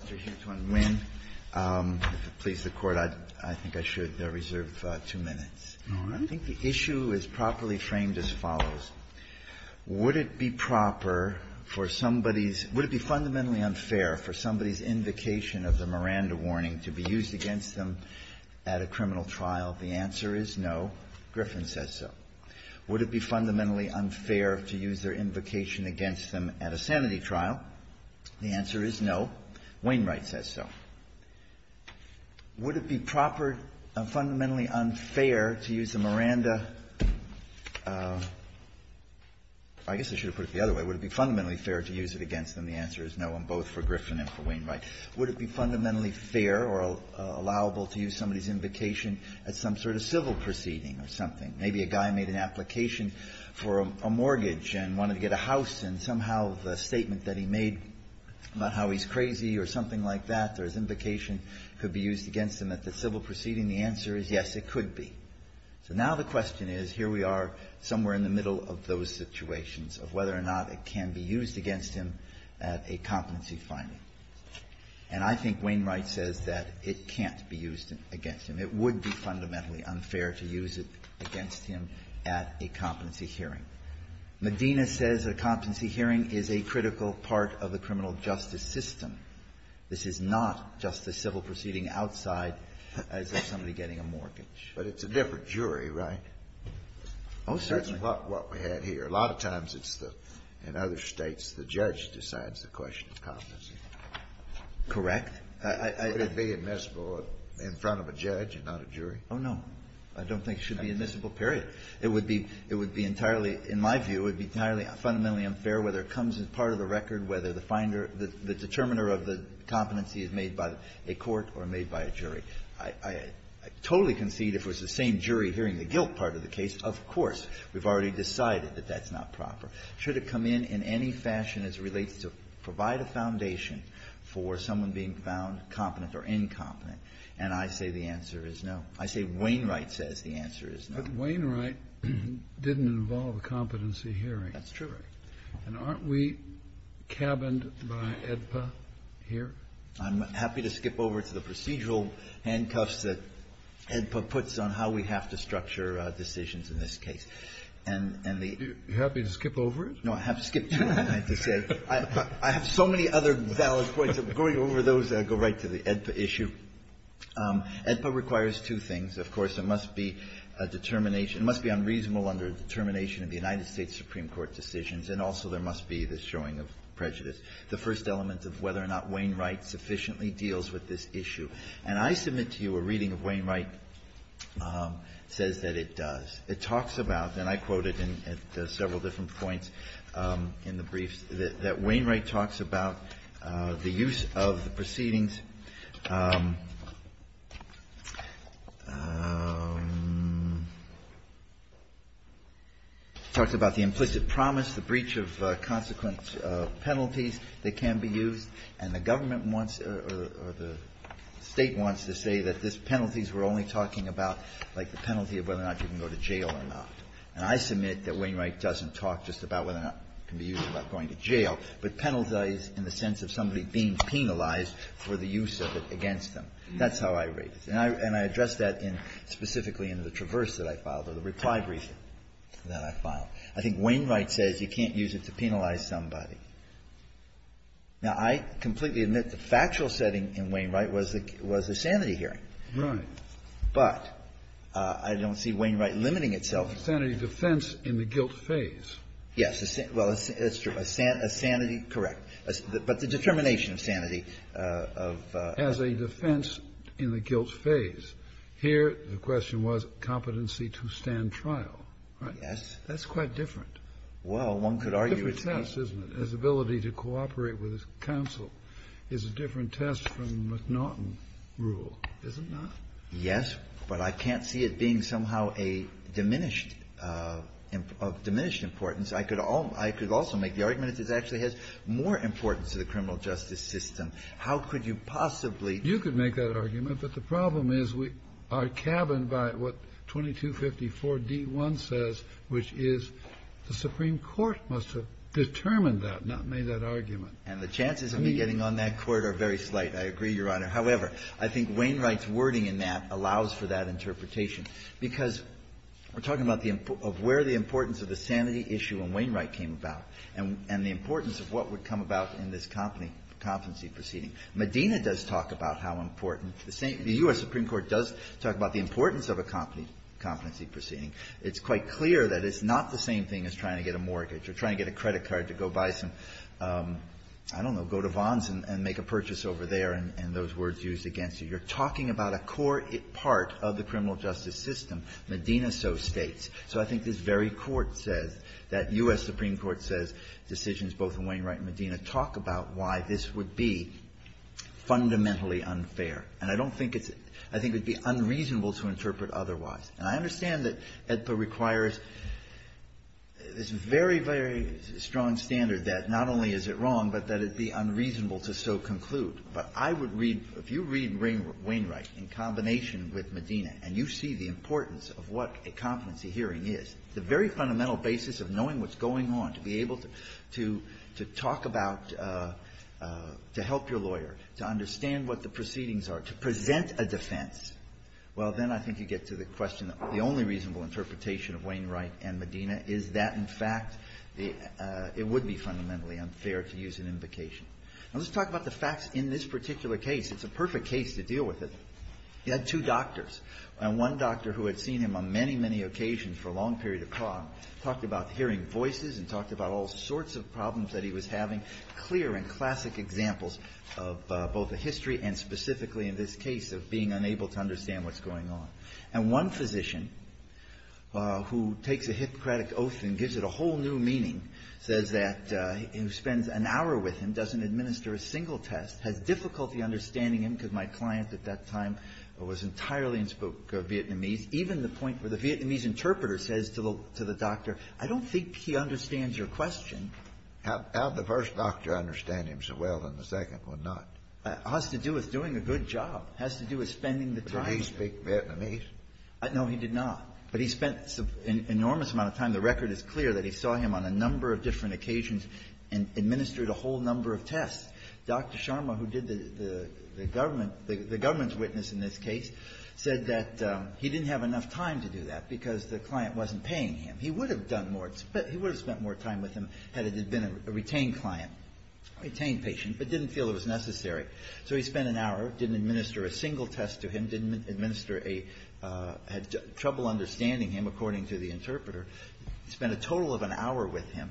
If it pleases the Court, I think I should reserve two minutes. I think the issue is properly framed as follows. Would it be proper for somebody's – would it be fundamentally unfair for somebody's invocation of the Miranda warning to be used against them at a criminal trial? The answer is no. Griffin says so. Would it be fundamentally unfair to use their invocation against them at a sanity trial? The answer is no. Wainwright says so. Would it be proper – fundamentally unfair to use the Miranda – I guess I should have put it the other way. Would it be fundamentally fair to use it against them? The answer is no, and both for Griffin and for Wainwright. Would it be fundamentally fair or allowable to use somebody's invocation at some sort of civil proceeding or something? Maybe a guy made an application for a mortgage and wanted to get a house, and somehow the statement that he made about how he's crazy or something like that, or his invocation could be used against him at the civil proceeding, the answer is yes, it could be. So now the question is, here we are somewhere in the middle of those situations of whether or not it can be used against him at a competency finding. And I think Wainwright says that it can't be used against him. It would be fundamentally unfair to use it against him at a competency hearing. Medina says a competency hearing is a critical part of the criminal justice system. This is not just a civil proceeding outside as if somebody getting a mortgage. But it's a different jury, right? Oh, certainly. That's what we had here. A lot of times it's the – in other States, the judge decides the question of competency. Correct. Could it be admissible in front of a judge and not a jury? Oh, no. I don't think it should be admissible, period. It would be – it would be entirely – in my view, it would be entirely, fundamentally unfair whether it comes as part of the record, whether the finder – the determiner of the competency is made by a court or made by a jury. I totally concede if it was the same jury hearing the guilt part of the case, of course we've already decided that that's not proper. Should it come in in any fashion as it relates to provide a foundation for someone being found competent or incompetent, and I say the answer is no. I say Wainwright says the answer is no. But Wainwright didn't involve a competency hearing. That's true. And aren't we cabined by AEDPA here? I'm happy to skip over to the procedural handcuffs that AEDPA puts on how we have to structure decisions in this case. And the – You're happy to skip over it? No, I have skipped to it. I have to say I have so many other valid points. I'm going over those that go right to the AEDPA issue. AEDPA requires two things. Of course, it must be a determination – it must be unreasonable under a determination of the United States Supreme Court decisions, and also there must be the showing of prejudice, the first element of whether or not Wainwright sufficiently deals with this issue. And I submit to you a reading of Wainwright says that it does. It talks about, and I quote it at several different points in the briefs, that Wainwright talks about the use of the proceedings, talks about the implicit promise, the breach of consequent penalties that can be used, and the government wants or the State wants to say that these penalties we're only talking about, like the penalty of whether or not you can go to jail or not. And I submit that Wainwright doesn't talk just about whether or not it can be used or not going to jail, but penalize in the sense of somebody being penalized for the use of it against them. That's how I read it. And I address that in – specifically in the Traverse that I filed or the reply brief that I filed. I think Wainwright says you can't use it to penalize somebody. Now, I completely admit the factual setting in Wainwright was the sanity hearing. Kennedy, but I don't see Wainwright limiting itself. Kennedy, the sanity defense in the guilt phase. Yes. Well, it's true. A sanity – correct. But the determination of sanity of the – As a defense in the guilt phase, here the question was competency to stand trial. Right? Yes. That's quite different. Well, one could argue it's not. It's a different test, isn't it, his ability to cooperate with his counsel is a different test from the McNaughton rule, is it not? Yes, but I can't see it being somehow a diminished – of diminished importance. I could also make the argument it actually has more importance to the criminal justice system. How could you possibly – You could make that argument. But the problem is we are cabined by what 2254d-1 says, which is the Supreme Court must have determined that, not made that argument. And the chances of me getting on that court are very slight. I agree, Your Honor. However, I think Wainwright's wording in that allows for that interpretation. Because we're talking about the – of where the importance of the sanity issue in Wainwright came about, and the importance of what would come about in this competency proceeding. Medina does talk about how important the same – the U.S. Supreme Court does talk about the importance of a competency proceeding. It's quite clear that it's not the same thing as trying to get a mortgage or trying to get a credit card to go buy some, I don't know, go to Vons and make a purchase over there, and those words used against you. You're talking about a core part of the criminal justice system. Medina so states. So I think this very court says that U.S. Supreme Court says decisions both in Wainwright and Medina talk about why this would be fundamentally unfair. And I don't think it's – I think it would be unreasonable to interpret otherwise. And I understand that AEDPA requires this very, very strong standard that not only is it wrong, but that it be unreasonable to so conclude. But I would read – if you read Wainwright in combination with Medina, and you see the importance of what a competency hearing is, the very fundamental basis of knowing what's going on, to be able to talk about – to help your lawyer, to understand what the proceedings are, to present a defense, well, then I think you get to the question that the only reasonable interpretation of Wainwright and Medina is that, in fact, it would be fundamentally unfair to use an invocation. Now, let's talk about the facts in this particular case. It's a perfect case to deal with it. He had two doctors, and one doctor who had seen him on many, many occasions for a long period of time talked about hearing voices and talked about all sorts of problems that he was having, clear and classic examples of both the history and specifically in this case of being unable to understand what's going on. And one physician who takes a Hippocratic oath and gives it a whole new meaning says that he spends an hour with him, doesn't administer a single test, has difficulty understanding him, because my client at that time was entirely and spoke Vietnamese, even the point where the Vietnamese interpreter says to the doctor, I don't think he understands your question. Kennedy, How did the first doctor understand him so well and the second one not? It has to do with doing a good job. It has to do with spending the time. Kennedy, did he speak Vietnamese? No, he did not. But he spent an enormous amount of time. The record is clear that he saw him on a number of different occasions and administered a whole number of tests. Dr. Sharma, who did the government, the government's witness in this case, said that he didn't have enough time to do that because the client wasn't paying him. He would have done more. He would have spent more time with him had it been a retained client, a retained patient, but didn't feel it was necessary. So he spent an hour, didn't administer a single test to him, didn't administer a – had trouble understanding him, according to the interpreter. He spent a total of an hour with him,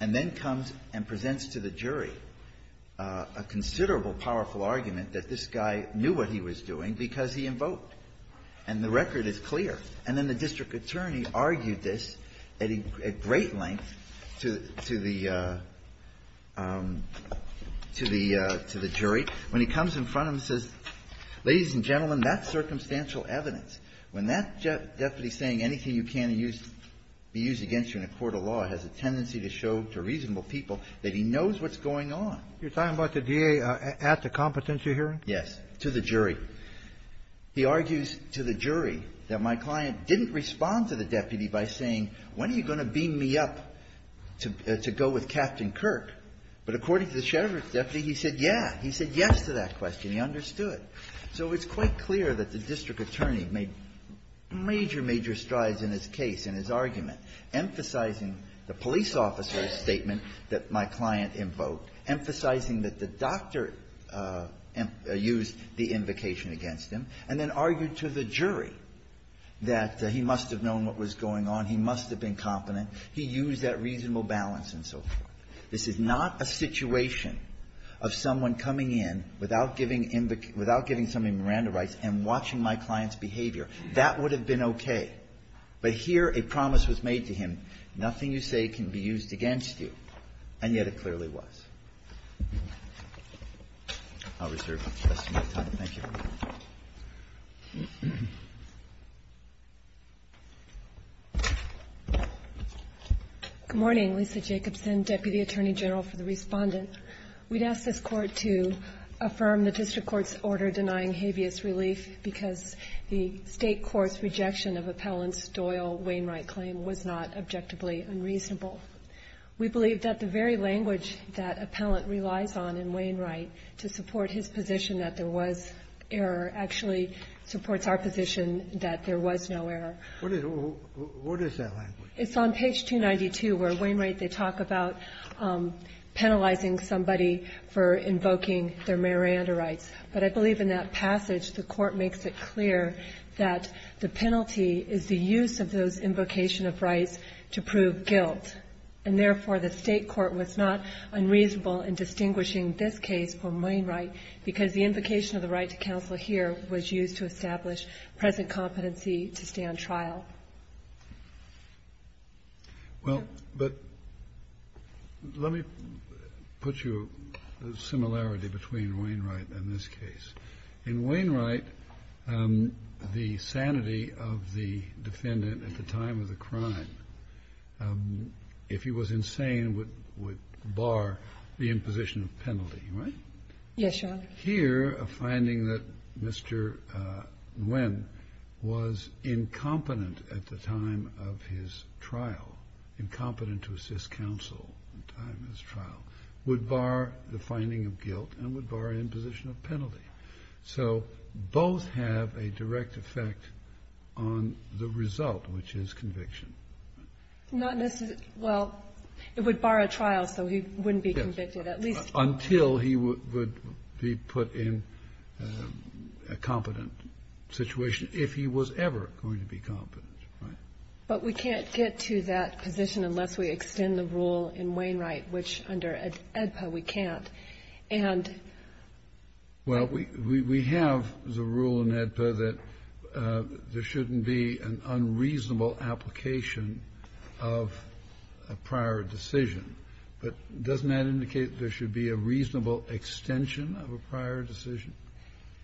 and then comes and presents to the jury a considerable powerful argument that this guy knew what he was doing because he invoked. And the record is clear. And then the district attorney argued this at great length to the – to the judge and the jury, when he comes in front of him and says, ladies and gentlemen, that's circumstantial evidence. When that deputy is saying anything you can't use – be used against you in a court of law has a tendency to show to reasonable people that he knows what's going on. Kennedy. You're talking about the DA at the competency hearing? Yes, to the jury. He argues to the jury that my client didn't respond to the deputy by saying, when are you going to beam me up to go with Captain Kirk? But according to the sheriff's deputy, he said, yeah. He said yes to that question. He understood. So it's quite clear that the district attorney made major, major strides in his case, in his argument, emphasizing the police officer's statement that my client invoked, emphasizing that the doctor used the invocation against him, and then argued to the jury that he must have known what was going on, he must have been competent, he used that reasonable balance and so forth. This is not a situation of someone coming in without giving – without giving somebody Miranda rights and watching my client's behavior. That would have been okay. But here a promise was made to him, nothing you say can be used against you, and yet it clearly was. I'll reserve the rest of my time. Thank you. Good morning, Lisa Jacobson, Deputy Attorney General for the Respondent. We'd ask this court to affirm the district court's order denying habeas relief because the state court's rejection of Appellant Doyle Wainwright's claim was not objectively unreasonable. We believe that the very language that Appellant relies on in Wainwright to support his position that there was error actually supports our position that there was no error. What is that language? It's on page 292 where Wainwright, they talk about penalizing somebody for invoking their Miranda rights. But I believe in that passage the court makes it clear that the penalty is the use of those invocation of rights to prove guilt. And therefore, the state court was not unreasonable in distinguishing this case from the other. The invocation of the right to counsel here was used to establish present competency to stand trial. Well, but let me put you a similarity between Wainwright and this case. In Wainwright, the sanity of the defendant at the time of the crime, if he was insane, would bar the imposition of penalty, right? Yes, Your Honor. Here, a finding that Mr. Nguyen was incompetent at the time of his trial, incompetent to assist counsel at the time of his trial, would bar the finding of guilt and would bar imposition of penalty. So, both have a direct effect on the result, which is conviction. Not necessarily, well, it would bar a trial so he wouldn't be convicted at least. Until he would be put in a competent situation, if he was ever going to be competent, right? But we can't get to that position unless we extend the rule in Wainwright, which under AEDPA we can't. And we have the rule in AEDPA that there shouldn't be an unreasonable application of a prior decision. But doesn't that indicate there should be a reasonable extension of a prior decision?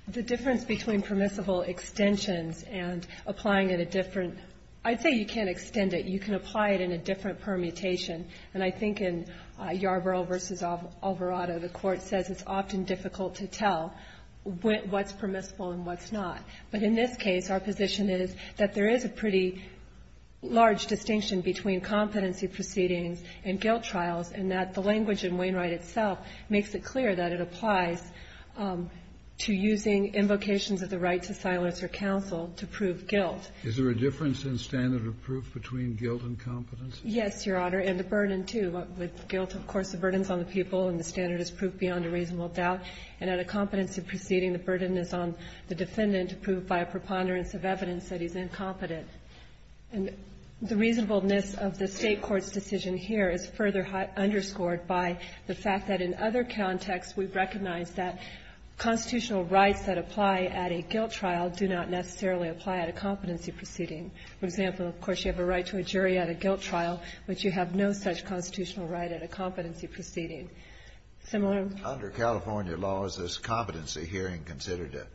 The difference between permissible extensions and applying in a different – I'd say you can't extend it. You can apply it in a different permutation. And I think in Yarborough v. Alvarado, the Court says it's often difficult to tell what's permissible and what's not. But in this case, our position is that there is a pretty large distinction between competency proceedings and guilt trials, and that the language in Wainwright itself makes it clear that it applies to using invocations of the right to silence or counsel to prove guilt. Is there a difference in standard of proof between guilt and competency? Yes, Your Honor, and the burden, too. With guilt, of course, the burden is on the people and the standard is proved beyond a reasonable doubt. And at a competency proceeding, the burden is on the defendant to prove by a preponderance of evidence that he's incompetent. And the reasonableness of the State court's decision here is further underscored by the fact that in other contexts, we recognize that constitutional rights that apply at a guilt trial do not necessarily apply at a competency proceeding. For example, of course, you have a right to a jury at a guilt trial, but you have no such constitutional right at a competency proceeding. Similar? Under California law, is this competency hearing considered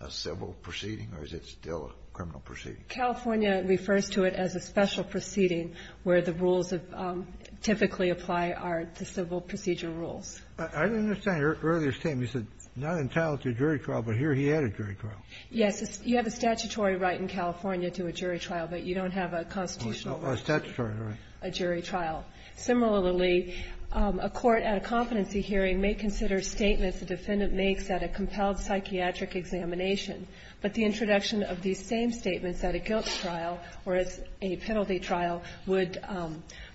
a civil proceeding or is it still a criminal proceeding? California refers to it as a special proceeding where the rules typically apply are the civil procedure rules. I didn't understand your earlier statement. You said not entitled to a jury trial, but here he had a jury trial. Yes. You have a statutory right in California to a jury trial, but you don't have a constitutional right. A statutory right. A jury trial. Similarly, a court at a competency hearing may consider statements the defendant makes at a compelled psychiatric examination, but the introduction of these same statements at a guilt trial or as a penalty trial would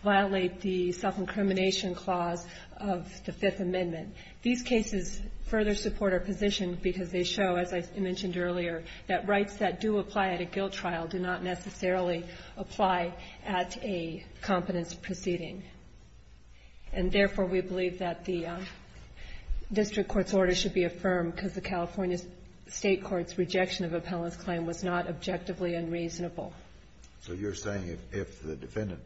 violate the self-incrimination clause of the Fifth Amendment. These cases further support our position because they show, as I mentioned earlier, that rights that do apply at a guilt trial do not necessarily apply at a competence proceeding. And therefore, we believe that the district court's order should be affirmed because the California State court's rejection of appellant's claim was not objectively unreasonable. So you're saying if the defendant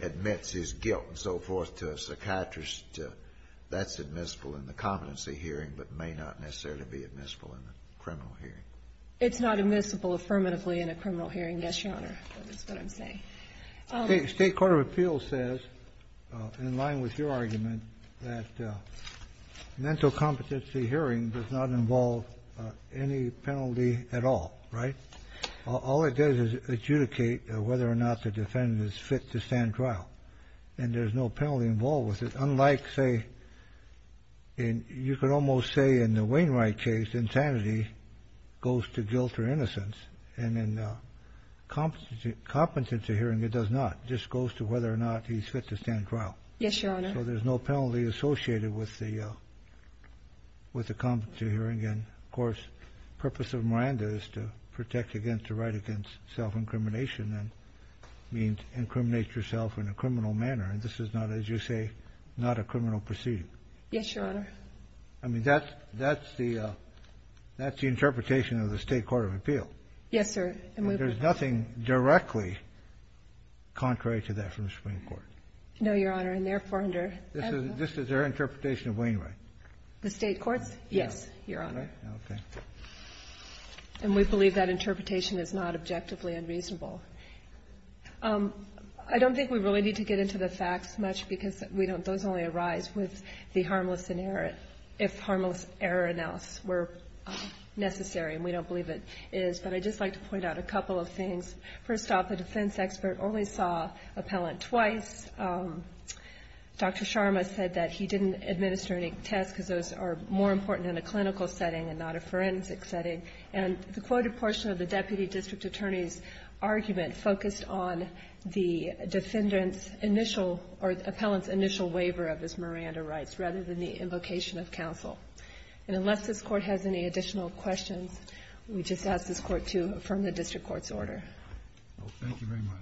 admits his guilt and so forth to a psychiatrist, that's admissible in the competency hearing but may not necessarily be admissible in the criminal hearing? It's not admissible affirmatively in a criminal hearing, yes, Your Honor, is what I'm saying. State court of appeals says, in line with your argument, that mental competency hearing does not involve any penalty at all, right? All it does is adjudicate whether or not the defendant is fit to stand trial and there's no penalty involved with it. Unlike, say, and you could almost say in the Wainwright case, insanity goes to guilt or innocence and in a competency hearing, it does not. It just goes to whether or not he's fit to stand trial. Yes, Your Honor. So there's no penalty associated with the competency hearing. And, of course, the purpose of Miranda is to protect against the right against self incrimination and means incriminate yourself in a criminal manner. And this is not, as you say, not a criminal proceeding. Yes, Your Honor. I mean, that's the interpretation of the state court of appeal. Yes, sir. And there's nothing directly contrary to that from the Supreme Court. No, Your Honor, and therefore, under- This is their interpretation of Wainwright. The state courts? Yes, Your Honor. Okay. And we believe that interpretation is not objectively unreasonable. I don't think we really need to get into the facts much because we don't those only arise with the harmless and error if harmless error announced were necessary and we don't believe it is. But I'd just like to point out a couple of things. First off, the defense expert only saw appellant twice. Dr. Sharma said that he didn't administer any tests because those are more important in a clinical setting and not a forensic setting. And the quoted portion of the deputy district attorney's argument focused on the defendant's initial or appellant's initial waiver of his Miranda rights rather than the invocation of counsel. And unless this Court has any additional questions, we just ask this Court to affirm the district court's order. Thank you very much.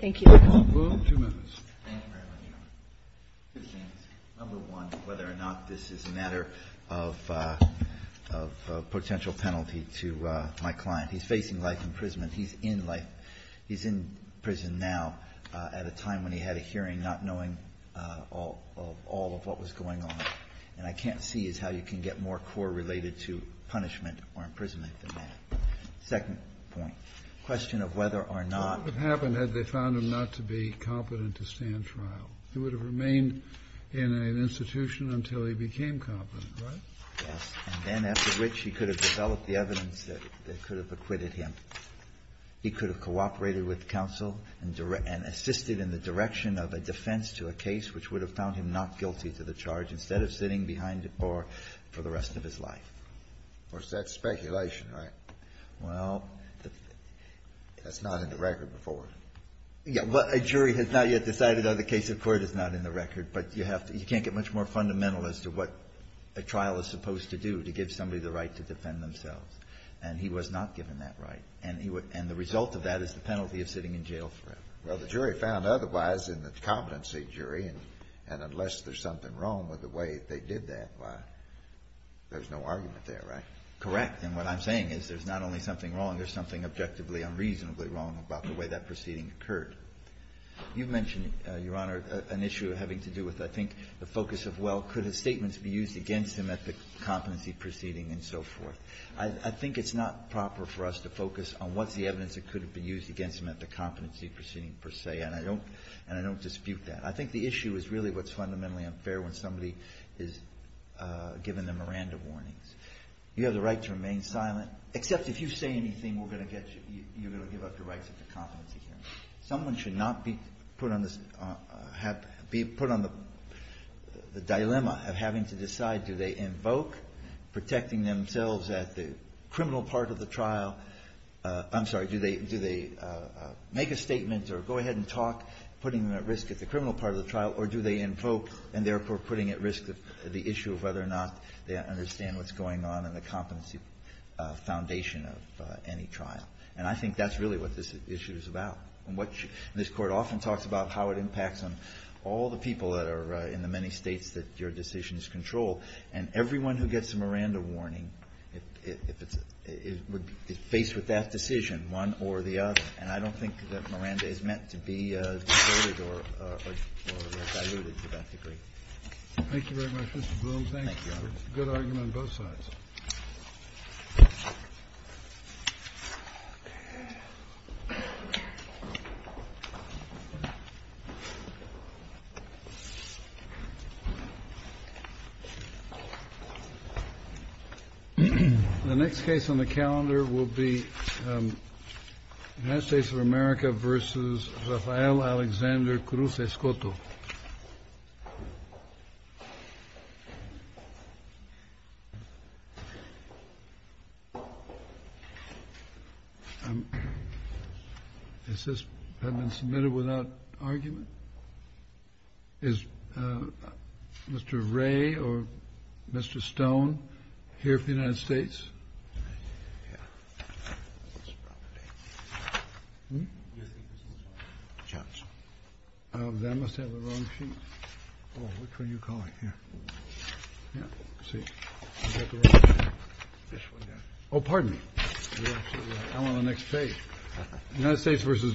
Thank you. Mr. Calabro, two minutes. Thank you very much, Your Honor. Number one, whether or not this is a matter of potential penalty to my client. He's facing life imprisonment. He's in life. He's in prison now at a time when he had a hearing not knowing all of what was going on. And I can't see is how you can get more core related to punishment or imprisonment Second point, question of whether or not the defendant's initial or appellant's right to be competent to stand trial. He would have remained in an institution until he became competent, right? Yes, and then after which he could have developed the evidence that could have acquitted him. He could have cooperated with counsel and assisted in the direction of a defense to a case which would have found him not guilty to the charge instead of sitting behind the bar for the rest of his life. Of course, that's speculation, right? Well, that's not in the record before. Yes, but a jury has not yet decided on the case. Of course, it's not in the record, but you have to you can't get much more fundamental as to what a trial is supposed to do to give somebody the right to defend themselves. And he was not given that right. And the result of that is the penalty of sitting in jail forever. Well, the jury found otherwise in the competency jury, and unless there's something wrong with the way they did that, why, there's no argument there, right? Correct. And what I'm saying is there's not only something wrong, there's something objectively, unreasonably wrong about the way that proceeding occurred. You mentioned, Your Honor, an issue having to do with, I think, the focus of, well, could his statements be used against him at the competency proceeding and so forth. I think it's not proper for us to focus on what's the evidence that could have been used against him at the competency proceeding, per se, and I don't dispute that. I think the issue is really what's fundamentally unfair when somebody is given the Miranda warnings. You have the right to remain silent, except if you say anything, we're going to get you, you're going to give up your rights at the competency hearing. Someone should not be put on the dilemma of having to decide, do they invoke protecting themselves at the criminal part of the trial? I'm sorry, do they make a statement or go ahead and talk, putting them at risk at the criminal part of the trial, or do they invoke and therefore putting at risk the issue of whether or not they understand what's going on in the competency foundation of any trial? And I think that's really what this issue is about. And what this Court often talks about, how it impacts on all the people that are in the many States that your decision is controlled, and everyone who gets a Miranda warning, if it's, is faced with that decision, one or the other, and I don't think that Miranda is meant to be distorted or diluted to that degree. Thank you very much, Mr. Broome. Thank you. It's a good argument on both sides. The next case on the calendar will be United States of America v. Rafael Alexander Cruz-Escoto. Has this been submitted without argument? Is Mr. Ray or Mr. Stone here for the United States? Oh, pardon me. I'm on the next page. United States v. Johnson.